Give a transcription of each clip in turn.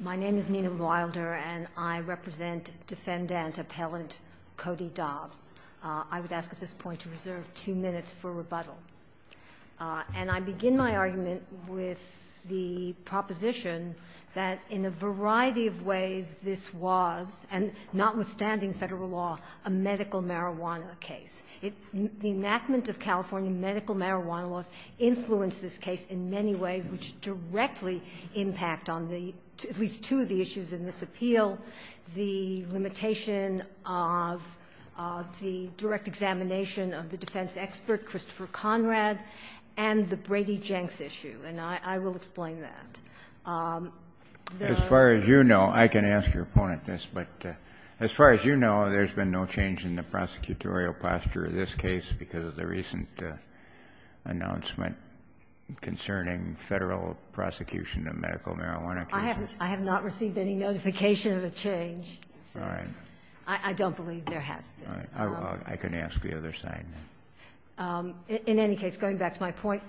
My name is Nina Wilder, and I represent Defendant Appellant Cody Dobbs. I would ask at this point to reserve two minutes for rebuttal. And I begin my argument with the proposition that in a variety of ways this was, and notwithstanding Federal law, a medical marijuana case. The enactment of California medical marijuana laws influenced this case in many ways, which directly impact on the, at least two of the issues in this appeal, the limitation of the direct examination of the defense expert, Christopher Conrad, and the Brady-Jenks issue, and I will explain that. The other thing I would say is that as far as you know, I can ask your opponent this, but as far as you know, there's been no change in the prosecutorial posture of this case because of the recent announcement concerning Federal prosecution of medical marijuana cases. I have not received any notification of a change. All right. I don't believe there has been. All right. I can ask the other side. In any case, going back to my point,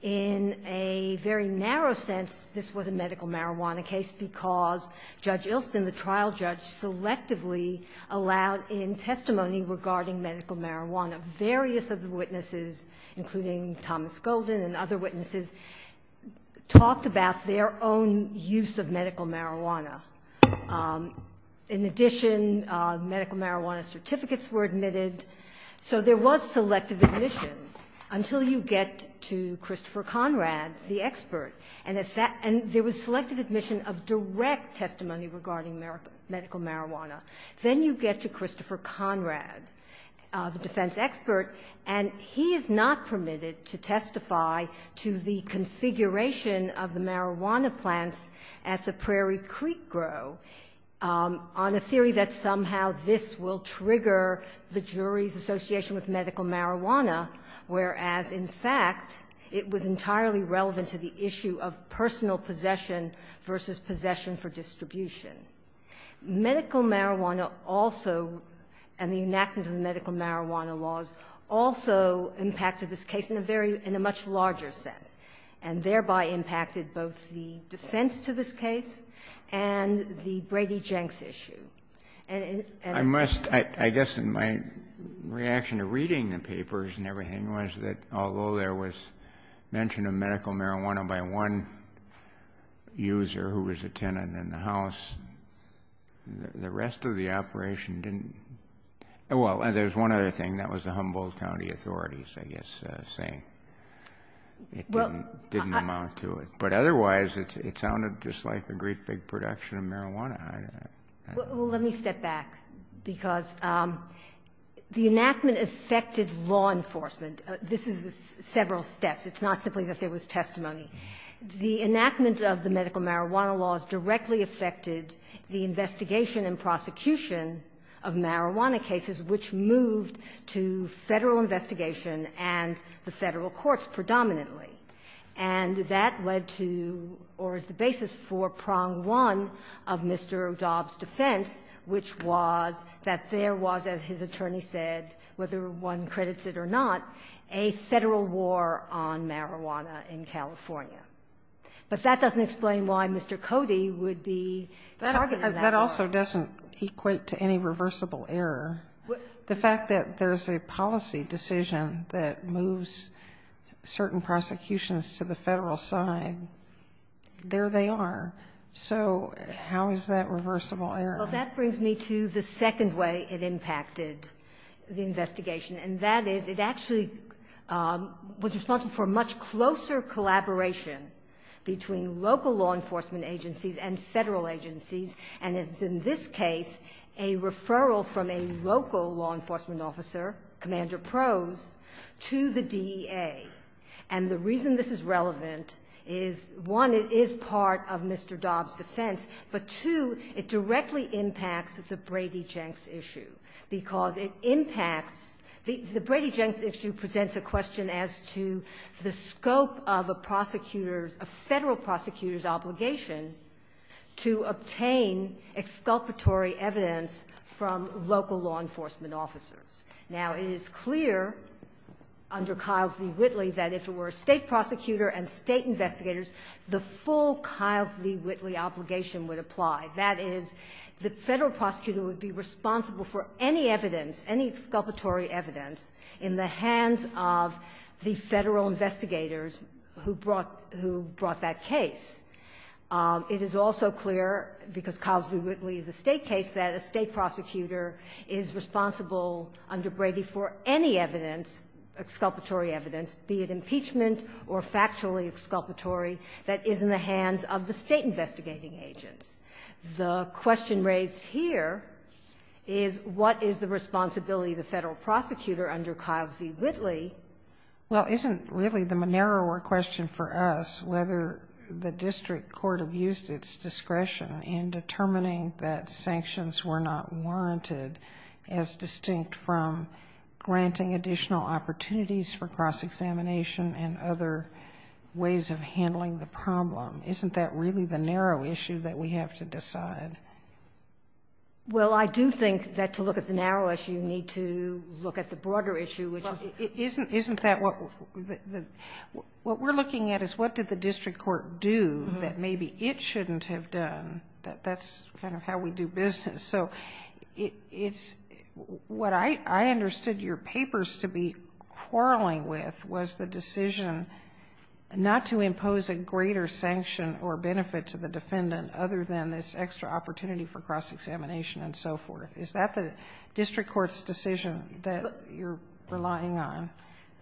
in a very narrow sense, this was a medical marijuana case, and the trial judge selectively allowed in testimony regarding medical marijuana, various of the witnesses, including Thomas Golden and other witnesses, talked about their own use of medical marijuana. In addition, medical marijuana certificates were admitted, so there was selective admission until you get to Christopher Conrad, the expert, and at that end there was selective admission of direct testimony regarding medical marijuana. Then you get to Christopher Conrad, the defense expert, and he is not permitted to testify to the configuration of the marijuana plants at the Prairie Creek Grow on a theory that somehow this will trigger the jury's association with medical marijuana, whereas in fact it was entirely relevant to the issue of personal possession versus possession for distribution. Medical marijuana also, and the enactment of the medical marijuana laws, also impacted this case in a very, in a much larger sense, and thereby impacted both the defense to this case and the Brady-Jenks issue. And in... I must, I guess in my reaction to reading the papers and everything was that although there was mention of medical marijuana by one user who was a tenant in the house, the rest of the operation didn't, well, there's one other thing, that was the Humboldt County authorities, I guess, saying it didn't amount to it. But otherwise, it sounded just like a great big production of marijuana. I don't know. Well, let me step back, because the enactment affected law enforcement. This is several steps. It's not simply that there was testimony. The enactment of the medical marijuana laws directly affected the investigation and prosecution of marijuana cases, which moved to Federal investigation and the Federal courts predominantly. And that led to, or is the basis for, prong one of Mr. Dobbs' defense, which was that there was, as his attorney said, whether one credits it or not, a Federal war on marijuana in California. But that doesn't explain why Mr. Cody would be targeted in that way. But that also doesn't equate to any reversible error. The fact that there's a policy decision that moves certain prosecutions to the Federal side, there they are. So how is that reversible error? Well, that brings me to the second way it impacted the investigation. And that is, it actually was responsible for a much closer collaboration between local law enforcement agencies and Federal agencies, and it's in this case a referral from a local law enforcement officer, Commander Prose, to the DEA. And the reason this is relevant is, one, it is part of Mr. Dobbs' defense, but, two, it directly impacts the Brady-Jenks issue, because it impacts the — the Brady-Jenks issue presents a question as to the scope of a prosecutor's, a Federal prosecutor's obligation to obtain exculpatory evidence from local law enforcement officers. Now, it is clear under Kyle v. Whitley that if it were a State prosecutor and State investigators, the full Kyle v. Whitley obligation would apply. That is, the Federal prosecutor would be responsible for any evidence, any exculpatory evidence in the hands of the Federal investigators who brought — who brought that case. It is also clear, because Kyle v. Whitley is a State case, that a State prosecutor is responsible under Brady for any evidence, exculpatory evidence, be it impeachment or factually exculpatory, that is in the hands of the State investigating agents. The question raised here is, what is the responsibility of the Federal prosecutor under Kyle v. Whitley? Well, isn't really the narrower question for us whether the district court abused its discretion in determining that sanctions were not warranted as distinct from granting additional opportunities for cross-examination and other ways of handling the problem? Isn't that really the narrow issue that we have to decide? Well, I do think that to look at the narrow issue, you need to look at the broader issue, which is — Isn't that what — what we're looking at is, what did the district court do that maybe it shouldn't have done? That's kind of how we do business. So it's — what I understood your papers to be quarreling with was the decision not to impose a greater sanction or benefit to the defendant other than this extra opportunity for cross-examination and so forth. Is that the district court's decision that you're relying on?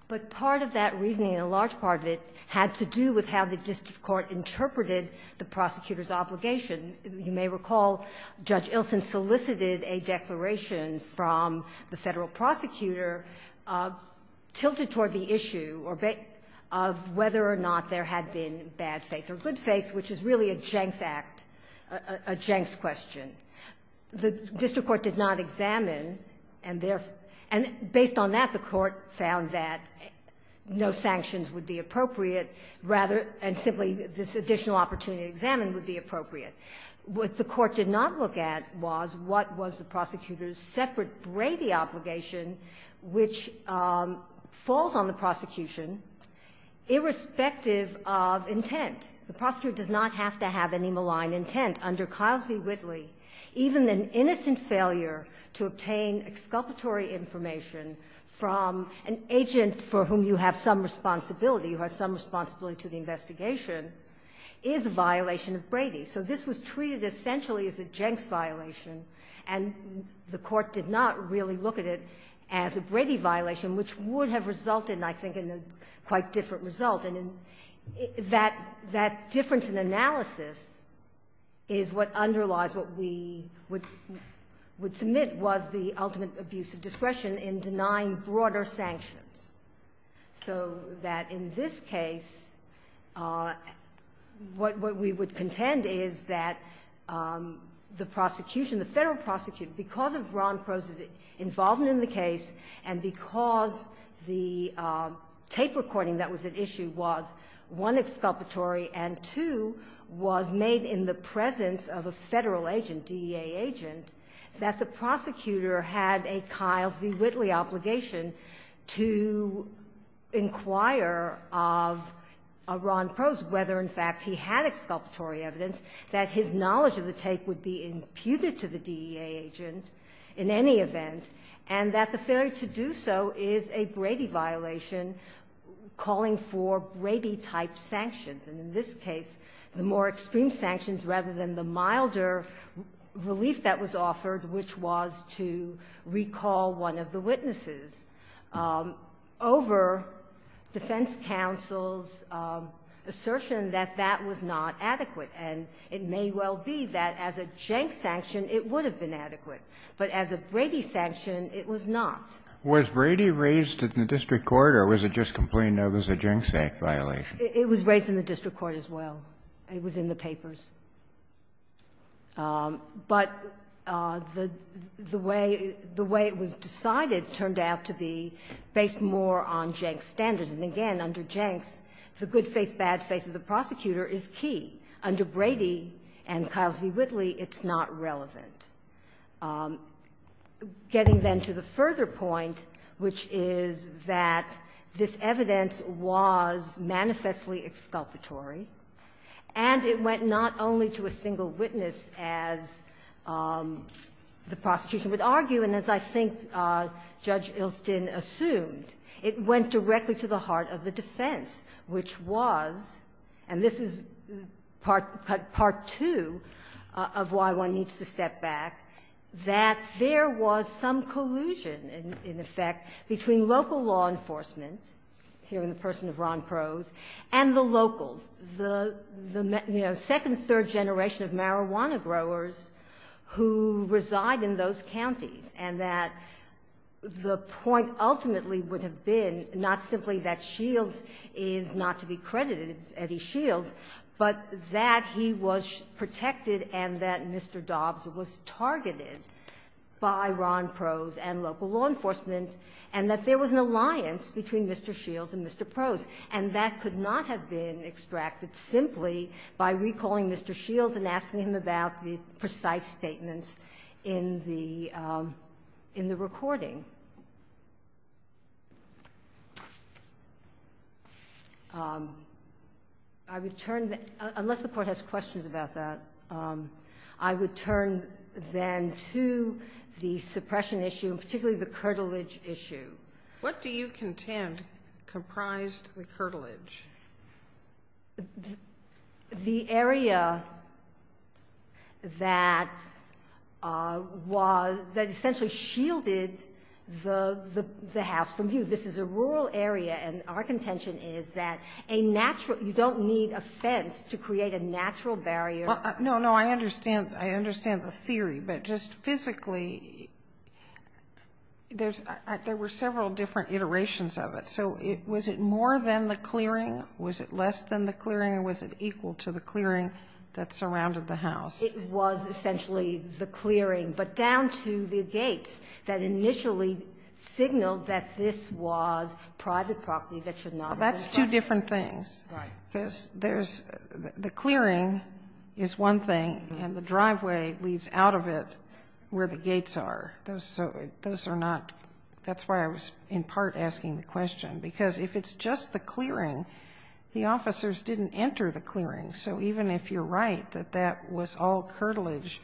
But part of that reasoning, a large part of it, had to do with how the district court interpreted the prosecutor's obligation. You may recall Judge Ilsen solicited a declaration from the Federal prosecutor tilted toward the issue of whether or not there had been bad faith or good faith, which is really a Jenks act, a Jenks question. The district court did not examine, and based on that, the court found that no sanctions would be appropriate, rather — and simply this additional opportunity to examine would be appropriate. What the court did not look at was what was the prosecutor's separate Brady obligation which falls on the prosecution irrespective of intent. The prosecutor does not have to have any malign intent. Under Kyle v. Whitley, even an innocent failure to obtain exculpatory information from an agent for whom you have some responsibility, who has some responsibility to the investigation, is a violation of Brady. So this was treated essentially as a Jenks violation, and the court did not really look at it as a Brady violation, which would have resulted, I think, in a quite different result. And that difference in analysis is what underlies what we would submit was the ultimate abuse of discretion in denying broader sanctions, so that in this case, what we would intend is that the prosecution, the Federal prosecutor, because of Ron Crowe's involvement in the case and because the tape recording that was at issue was, one, exculpatory, and two, was made in the presence of a Federal agent, DEA agent, that the prosecutor had a Kyle v. Whitley obligation to inquire of Ron Crowe's whether in fact he had exculpatory evidence, that his knowledge of the tape would be imputed to the DEA agent in any event, and that the failure to do so is a Brady violation calling for Brady-type sanctions, and in this case, the more extreme sanctions rather than the milder relief that was offered, which was to recall one of the witnesses. Over defense counsel's assertion that that was not adequate, and it may well be that as a Jenks sanction, it would have been adequate, but as a Brady sanction, it was not. Kennedy. Was Brady raised in the district court or was it just complained that it was a Jenks act violation? Ginsburg. It was raised in the district court as well. It was in the papers. But the way it was decided turned out to be based more on Jenks' standards. And again, under Jenks, the good faith, bad faith of the prosecutor is key. Under Brady and Kyle v. Whitley, it's not relevant. Getting then to the further point, which is that this evidence was manifestly exculpatory, and it went not only to a single witness, as the prosecution would argue, and as I think Judge Ilston assumed, it went directly to the heart of the defense, which was, and this is part two of why one needs to step back, that there was some collusion, in effect, between local law enforcement, here in the and the locals, the, you know, second, third generation of marijuana growers who reside in those counties, and that the point ultimately would have been not simply that Shields is not to be credited, Eddie Shields, but that he was protected and that Mr. Dobbs was targeted by Ron Prose and local law enforcement, and that there was an And that could not have been extracted simply by recalling Mr. Shields and asking him about the precise statements in the recording. I would turn, unless the Court has questions about that, I would turn then to the suppression issue, and particularly the curtilage issue. What do you contend comprised the curtilage? The area that was, that essentially shielded the house from view. This is a rural area, and our contention is that a natural, you don't need a fence to create a natural barrier. No, no, I understand. I understand the theory, but just physically, there's, there were several different iterations of it, so was it more than the clearing? Was it less than the clearing, or was it equal to the clearing that surrounded the house? It was essentially the clearing, but down to the gates that initially signaled that this was private property that should not be. That's two different things. Right. Because there's, the clearing is one thing, and the driveway leads out of it where the gates are. Those are not, that's why I was in part asking the question, because if it's just the clearing, the officers didn't enter the clearing. So even if you're right that that was all curtilage,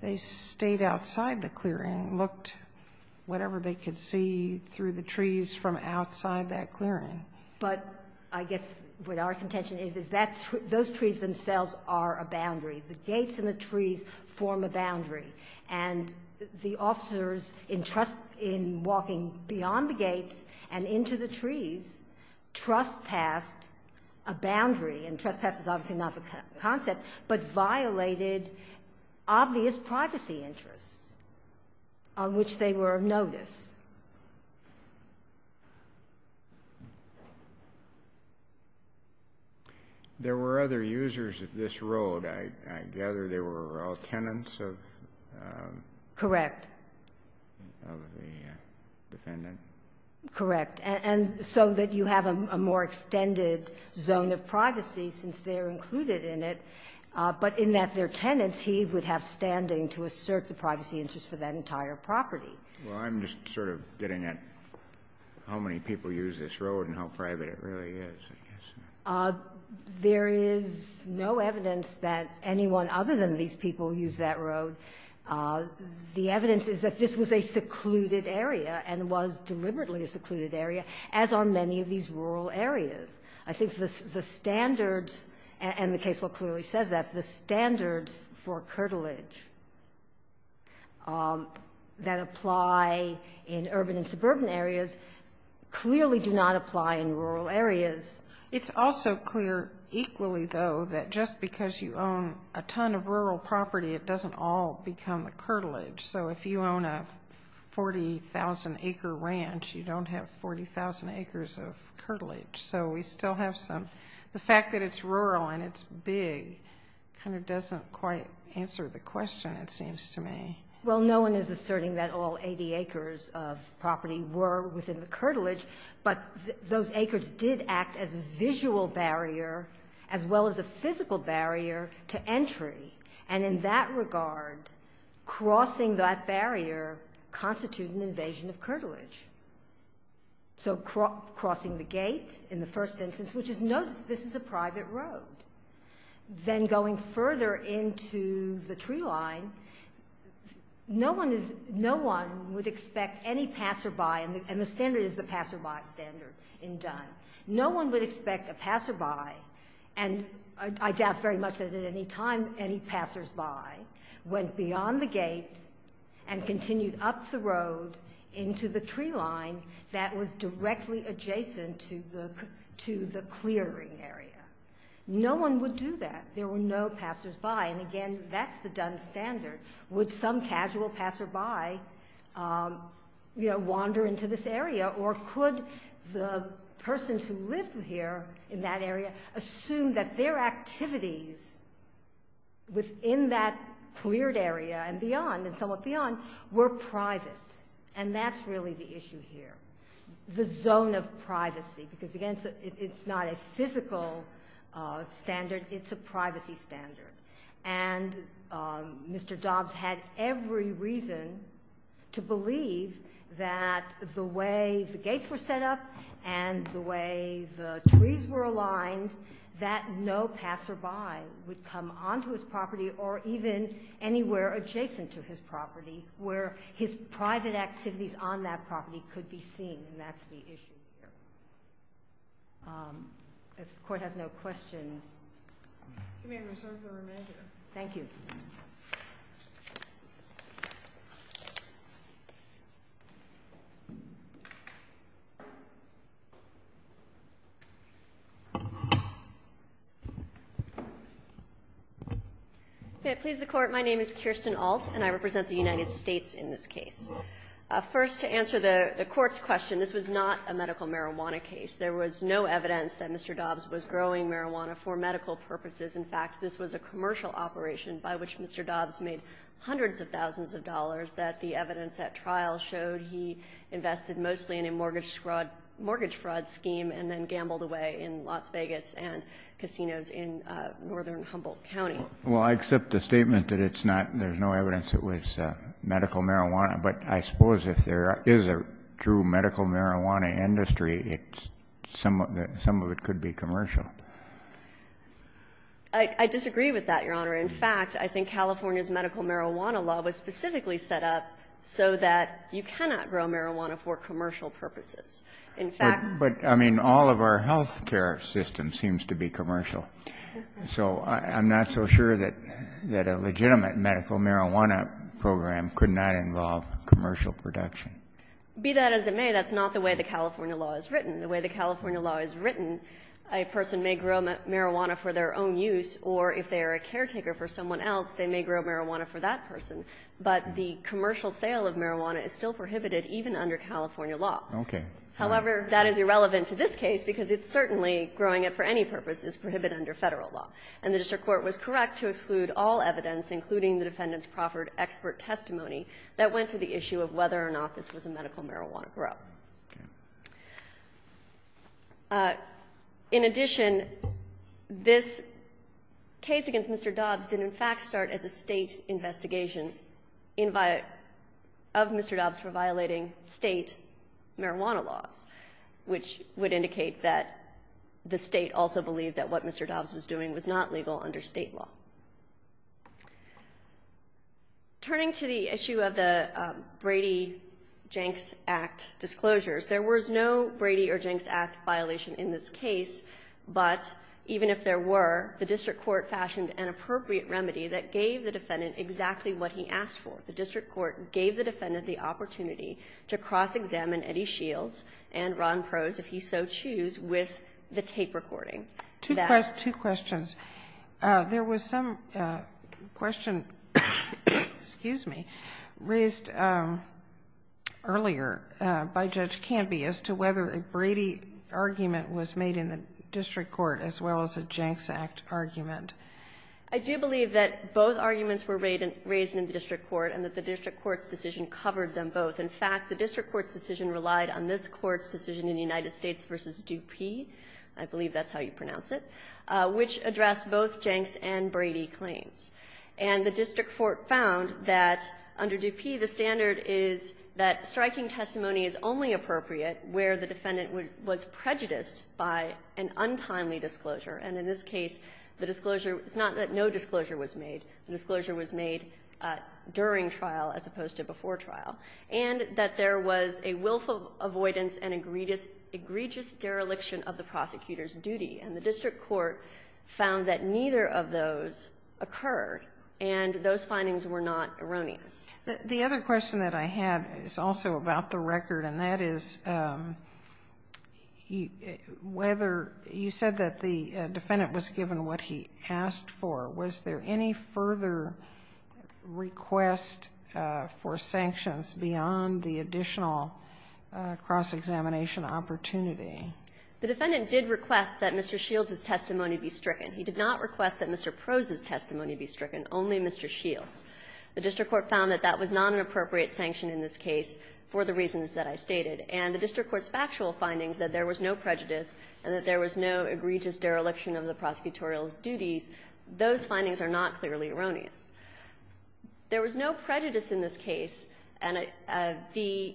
they stayed outside the clearing, looked whatever they could see through the trees from outside that clearing. But I guess what our contention is, is that those trees themselves are a boundary. The gates and the trees form a boundary, and the officers in trust, in walking beyond the gates and into the trees, trespassed a boundary, and trespass is obviously not the concept, but violated obvious privacy interests on which they were of notice. There were other users of this road. I gather they were all tenants of the defendant. Correct. Correct. And so that you have a more extended zone of privacy since they're included in it, but in that they're tenants, he would have standing to assert the privacy interests for that entire property. Well, I'm just sort of getting at how many people use this road and how private it really is, I guess. There is no evidence that anyone other than these people use that road. The evidence is that this was a secluded area and was deliberately a secluded area, as are many of these rural areas. I think the standard, and the case law clearly says that, the standard for curtilage that apply in urban and suburban areas clearly do not apply in rural areas. It's also clear equally, though, that just because you own a ton of rural property, it doesn't all become the curtilage. So if you own a 40,000-acre ranch, you don't have 40,000 acres of curtilage. So we still have some. The fact that it's rural and it's big kind of doesn't quite answer the question, it seems to me. Well, no one is asserting that all 80 acres of property were within the curtilage, but those acres did act as a visual barrier as well as a physical barrier to entry. And in that regard, crossing that barrier constituted an invasion of curtilage. So crossing the gate in the first instance, which is notice this is a private road. Then going further into the tree line, no one would expect any passerby, and the standard is the passerby standard in Dunn. No one would expect a passerby, and I doubt very much that at any time any passersby, went beyond the gate and continued up the road into the tree line that was directly adjacent to the clearing area. No one would do that. There were no passersby, and again, that's the Dunn standard. Would some casual passerby wander into this area, or could the person who lived here in that area assume that their activities within that cleared area and beyond, and somewhat beyond, were private? And that's really the issue here, the zone of privacy, because, again, it's not a physical standard. It's a privacy standard. And Mr. Dobbs had every reason to believe that the way the gates were set up and the way the trees were aligned, that no passerby would come onto his property or even anywhere adjacent to his property where his private activities on that property could be seen, and that's the issue here. If the Court has no questions. Thank you. Okay. Please, the Court. My name is Kirsten Ault, and I represent the United States in this case. First, to answer the Court's question, this was not a medical marijuana case. There was no evidence that Mr. Dobbs was growing marijuana for medical purposes. In fact, this was a commercial operation by which Mr. Dobbs made hundreds of thousands of dollars that the evidence at trial showed he invested mostly in a mortgage fraud scheme and then gambled away in Las Vegas and casinos in northern Humboldt County. Well, I accept the statement that it's not, there's no evidence it was medical marijuana, but I suppose if there is a true medical marijuana industry, some of it could be commercial. I disagree with that, Your Honor. In fact, I think California's medical marijuana law was specifically set up so that you cannot grow marijuana for commercial purposes. In fact — But, I mean, all of our health care system seems to be commercial, so I'm not so sure that a legitimate medical marijuana program could not involve commercial production. Be that as it may, that's not the way the California law is written. The way the California law is written, a person may grow marijuana for their own use, or if they are a caretaker for someone else, they may grow marijuana for that person. But the commercial sale of marijuana is still prohibited even under California law. Okay. However, that is irrelevant to this case because it's certainly growing it for any purpose is prohibited under Federal law. And the district court was correct to exclude all evidence, including the defendant's proffered expert testimony, that went to the issue of whether or not this was a medical marijuana grow. Okay. In addition, this case against Mr. Dobbs did, in fact, start as a State investigation of Mr. Dobbs for violating State marijuana laws, which would indicate that the State also believed that what Mr. Dobbs was doing was not legal under State law. Turning to the issue of the Brady-Jenks Act disclosures, there was no Brady or Jenks Act violation in this case, but even if there were, the district court fashioned an appropriate remedy that gave the defendant exactly what he asked for. The district court gave the defendant the opportunity to cross-examine Eddie Shields and Ron Prose, if he so choose, with the tape recording. Two questions. There was some question, excuse me, raised earlier by Judge Canby as to whether a Brady argument was made in the district court as well as a Jenks Act argument. I do believe that both arguments were raised in the district court and that the district court's decision covered them both. In fact, the district court's decision relied on this Court's decision in the United States v. Dupuy, I believe that's how you pronounce it, which addressed both Jenks and Brady claims. And the district court found that under Dupuy the standard is that striking testimony is only appropriate where the defendant was prejudiced by an untimely disclosure. And in this case, the disclosure, it's not that no disclosure was made. The disclosure was made during trial as opposed to before trial. And that there was a willful avoidance and egregious dereliction of the prosecutor's duty. And the district court found that neither of those occurred, and those findings were not erroneous. The other question that I have is also about the record, and that is whether you said that the defendant was given what he asked for. Was there any further request for sanctions beyond the additional cross-examination opportunity? The defendant did request that Mr. Shields' testimony be stricken. He did not request that Mr. Prose's testimony be stricken, only Mr. Shields'. The district court found that that was not an appropriate sanction in this case for the reasons that I stated. And the district court's factual findings that there was no prejudice and that there was no egregious dereliction of the prosecutorial's duties, those findings are not clearly erroneous. There was no prejudice in this case, and the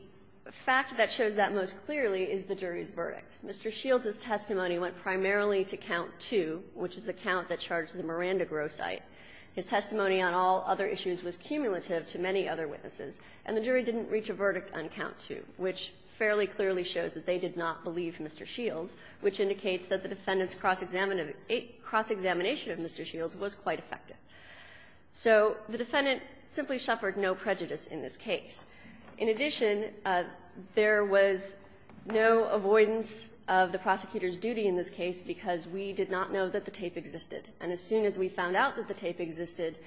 fact that shows that most clearly is the jury's verdict. Mr. Shields' testimony went primarily to count two, which is the count that charged the Miranda Grow site. His testimony on all other issues was cumulative to many other witnesses, and the jury didn't reach a verdict on count two, which fairly clearly shows that they did not believe Mr. Shields, which indicates that the defendant's cross-examination of Mr. Shields was quite effective. So the defendant simply suffered no prejudice in this case. In addition, there was no avoidance of the prosecutor's duty in this case because we did not know that the tape existed. And as soon as we found out that the tape existed,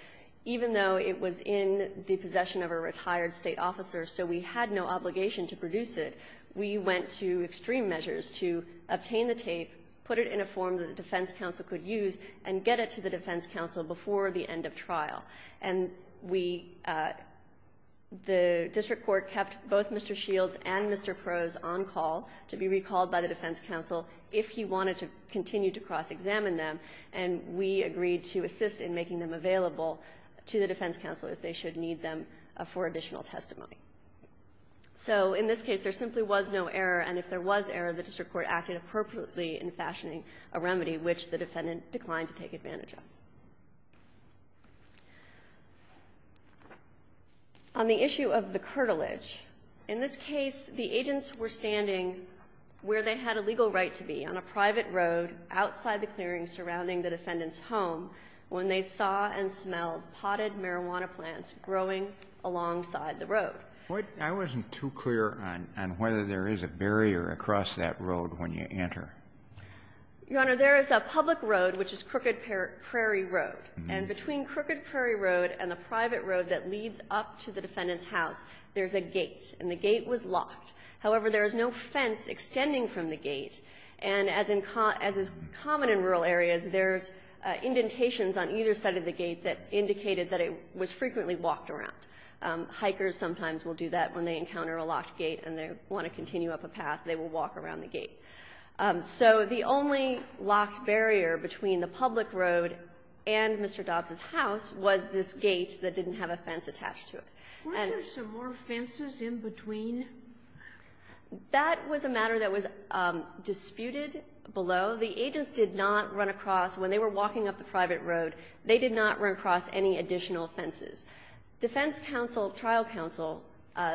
even though it was in the possession of a retired State officer, so we had no obligation to produce it, we went to extreme measures to obtain the tape, put it in a form that the defense counsel could use, and get it to the defense counsel before the end of trial. And we – the district court kept both Mr. Shields and Mr. Prose on call to be recalled by the defense counsel if he wanted to continue to cross-examine them, and we agreed to assist in making them available to the defense counsel if they should need them for additional testimony. So in this case, there simply was no error, and if there was error, the district court acted appropriately in fashioning a remedy, which the defendant declined to take advantage of. On the issue of the curtilage, in this case, the agents were standing where they had a when they saw and smelled potted marijuana plants growing alongside the road. Kennedy, I wasn't too clear on whether there is a barrier across that road when you enter. Your Honor, there is a public road, which is Crooked Prairie Road. And between Crooked Prairie Road and the private road that leads up to the defendant's house, there's a gate, and the gate was locked. However, there is no fence extending from the gate. And as is common in rural areas, there's indentations on either side of the gate that indicated that it was frequently walked around. Hikers sometimes will do that when they encounter a locked gate and they want to continue up a path, they will walk around the gate. So the only locked barrier between the public road and Mr. Dobbs' house was this gate that didn't have a fence attached to it. Were there some more fences in between? That was a matter that was disputed below. The agents did not run across, when they were walking up the private road, they did not run across any additional fences. Defense counsel, trial counsel,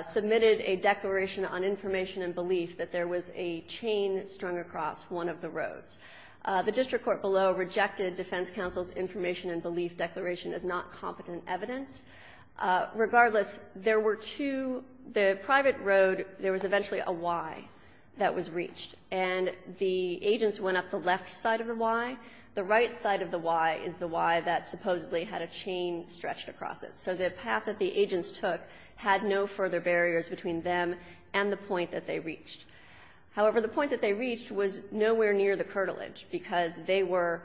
submitted a declaration on information and belief that there was a chain strung across one of the roads. The district court below rejected defense counsel's information and belief declaration as not competent evidence. Regardless, there were two, the private road, there was eventually a Y that was reached. And the agents went up the left side of the Y. The right side of the Y is the Y that supposedly had a chain stretched across it. So the path that the agents took had no further barriers between them and the point that they reached. However, the point that they reached was nowhere near the curtilage, because they were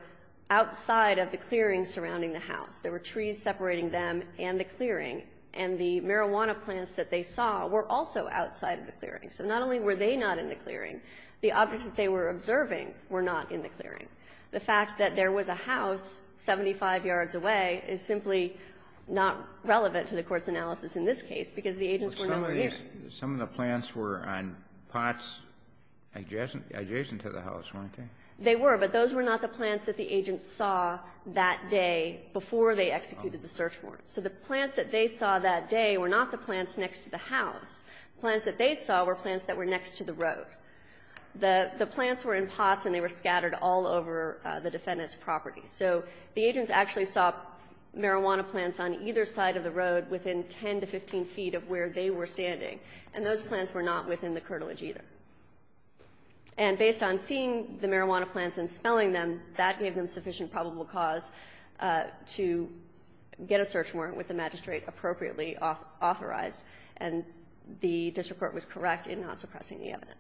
outside of the clearing surrounding the house. There were trees separating them and the clearing. And the marijuana plants that they saw were also outside of the clearing. So not only were they not in the clearing, the objects that they were observing were not in the clearing. The fact that there was a house 75 yards away is simply not relevant to the court's analysis in this case, because the agents were not there. Some of the plants were on pots adjacent to the house, weren't they? They were, but those were not the plants that the agents saw that day before they executed the search warrant. So the plants that they saw that day were not the plants next to the house. Plants that they saw were plants that were next to the road. The plants were in pots and they were scattered all over the defendant's property. So the agents actually saw marijuana plants on either side of the road within 10 to 15 feet of where they were standing. And those plants were not within the curtilage either. And based on seeing the marijuana plants and spelling them, that gave them sufficient probable cause to get a search warrant with the magistrate appropriately authorized, and the district court was correct in not suppressing the evidence.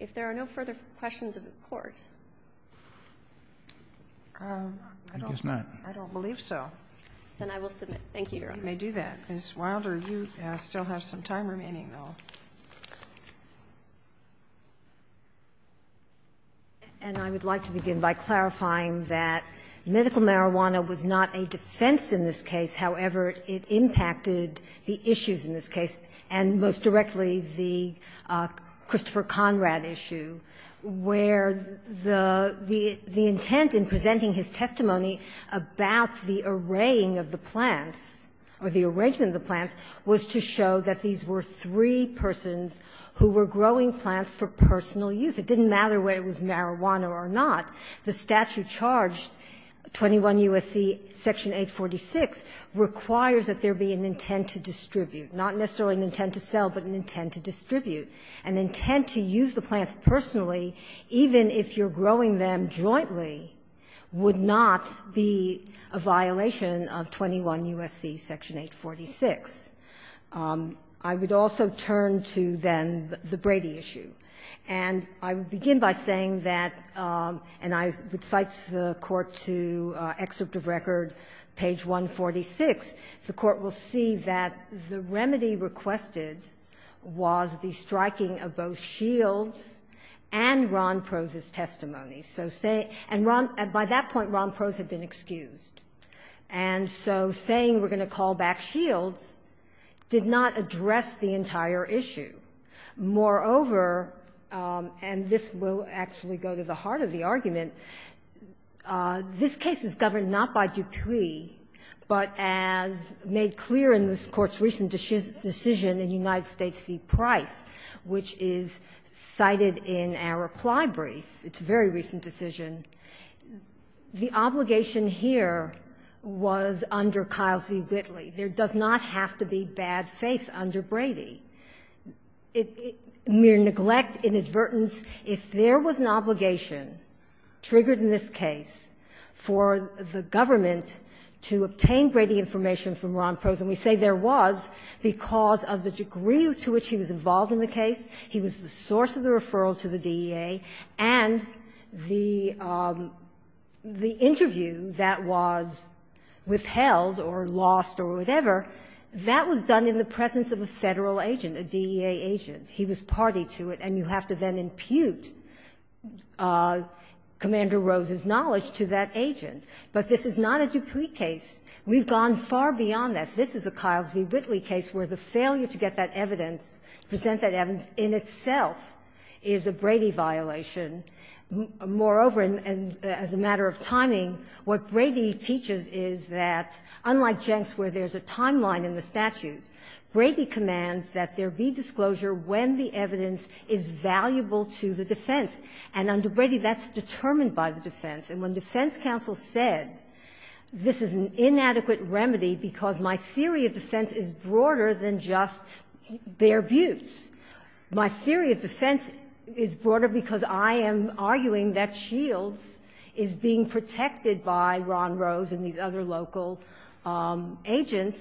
If there are no further questions of the court. I don't believe so. Then I will submit. Thank you, Your Honor. You may do that. Ms. Wilder, you still have some time remaining, though. And I would like to begin by clarifying that medical marijuana was not a defense in this case. However, it impacted the issues in this case, and most directly the Christopher Conrad issue, where the intent in presenting his testimony about the arraying of the plants or the arrangement of the plants was to show that these were three persons who were growing plants for personal use. It didn't matter whether it was marijuana or not. The statute charged, 21 U.S.C. section 846, requires that there be an intent to distribute. Not necessarily an intent to sell, but an intent to distribute. An intent to use the plants personally, even if you're growing them jointly, would not be a violation of 21 U.S.C. section 846. I would also turn to then the Brady issue. And I would begin by saying that, and I would cite the court to excerpt of record page 146, the court will see that the remedy requested was the striking of both Shields and Ron Prose's testimony. So say — and Ron — by that point, Ron Prose had been excused. And so saying we're going to call back Shields did not address the entire issue. Moreover, and this will actually go to the heart of the argument, this case is governed not by Dupree, but as made clear in this Court's recent decision in United States v. Price, which is cited in our reply brief. It's a very recent decision. The obligation here was under Kiles v. Whitley. There does not have to be bad faith under Brady. Mere neglect, inadvertence. If there was an obligation triggered in this case for the government to obtain Brady information from Ron Prose, and we say there was because of the degree to which he was involved in the case, he was the source of the referral to the DEA, and the interview that was withheld or lost or whatever, that was done in the presence of a Federal agent, a DEA agent. He was party to it, and you have to then impute Commander Rose's knowledge to that agent. But this is not a Dupree case. We've gone far beyond that. This is a Kiles v. Whitley case where the failure to get that evidence, present that evidence in itself is a Brady violation. Moreover, and as a matter of timing, what Brady teaches is that, unlike Jenks where there's a timeline in the statute, Brady commands that there be disclosure when the evidence is valuable to the defense. And under Brady, that's determined by the defense. And when defense counsel said this is an inadequate remedy because my theory of defense is broader than just bare butts, my theory of defense is broader because I am arguing that Shields is being protected by Ron Rose and these other local agents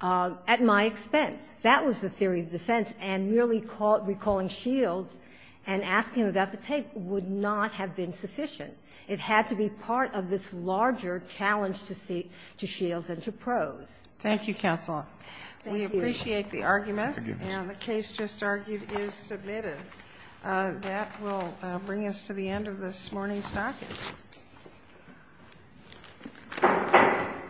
at my expense. That was the theory of defense, and merely recalling Shields and asking about the tape would not have been sufficient. It had to be part of this larger challenge to Shields and to Prose. Thank you, Counsel. Thank you. We appreciate the arguments. Thank you. And the case just argued is submitted. That will bring us to the end of this morning's docket.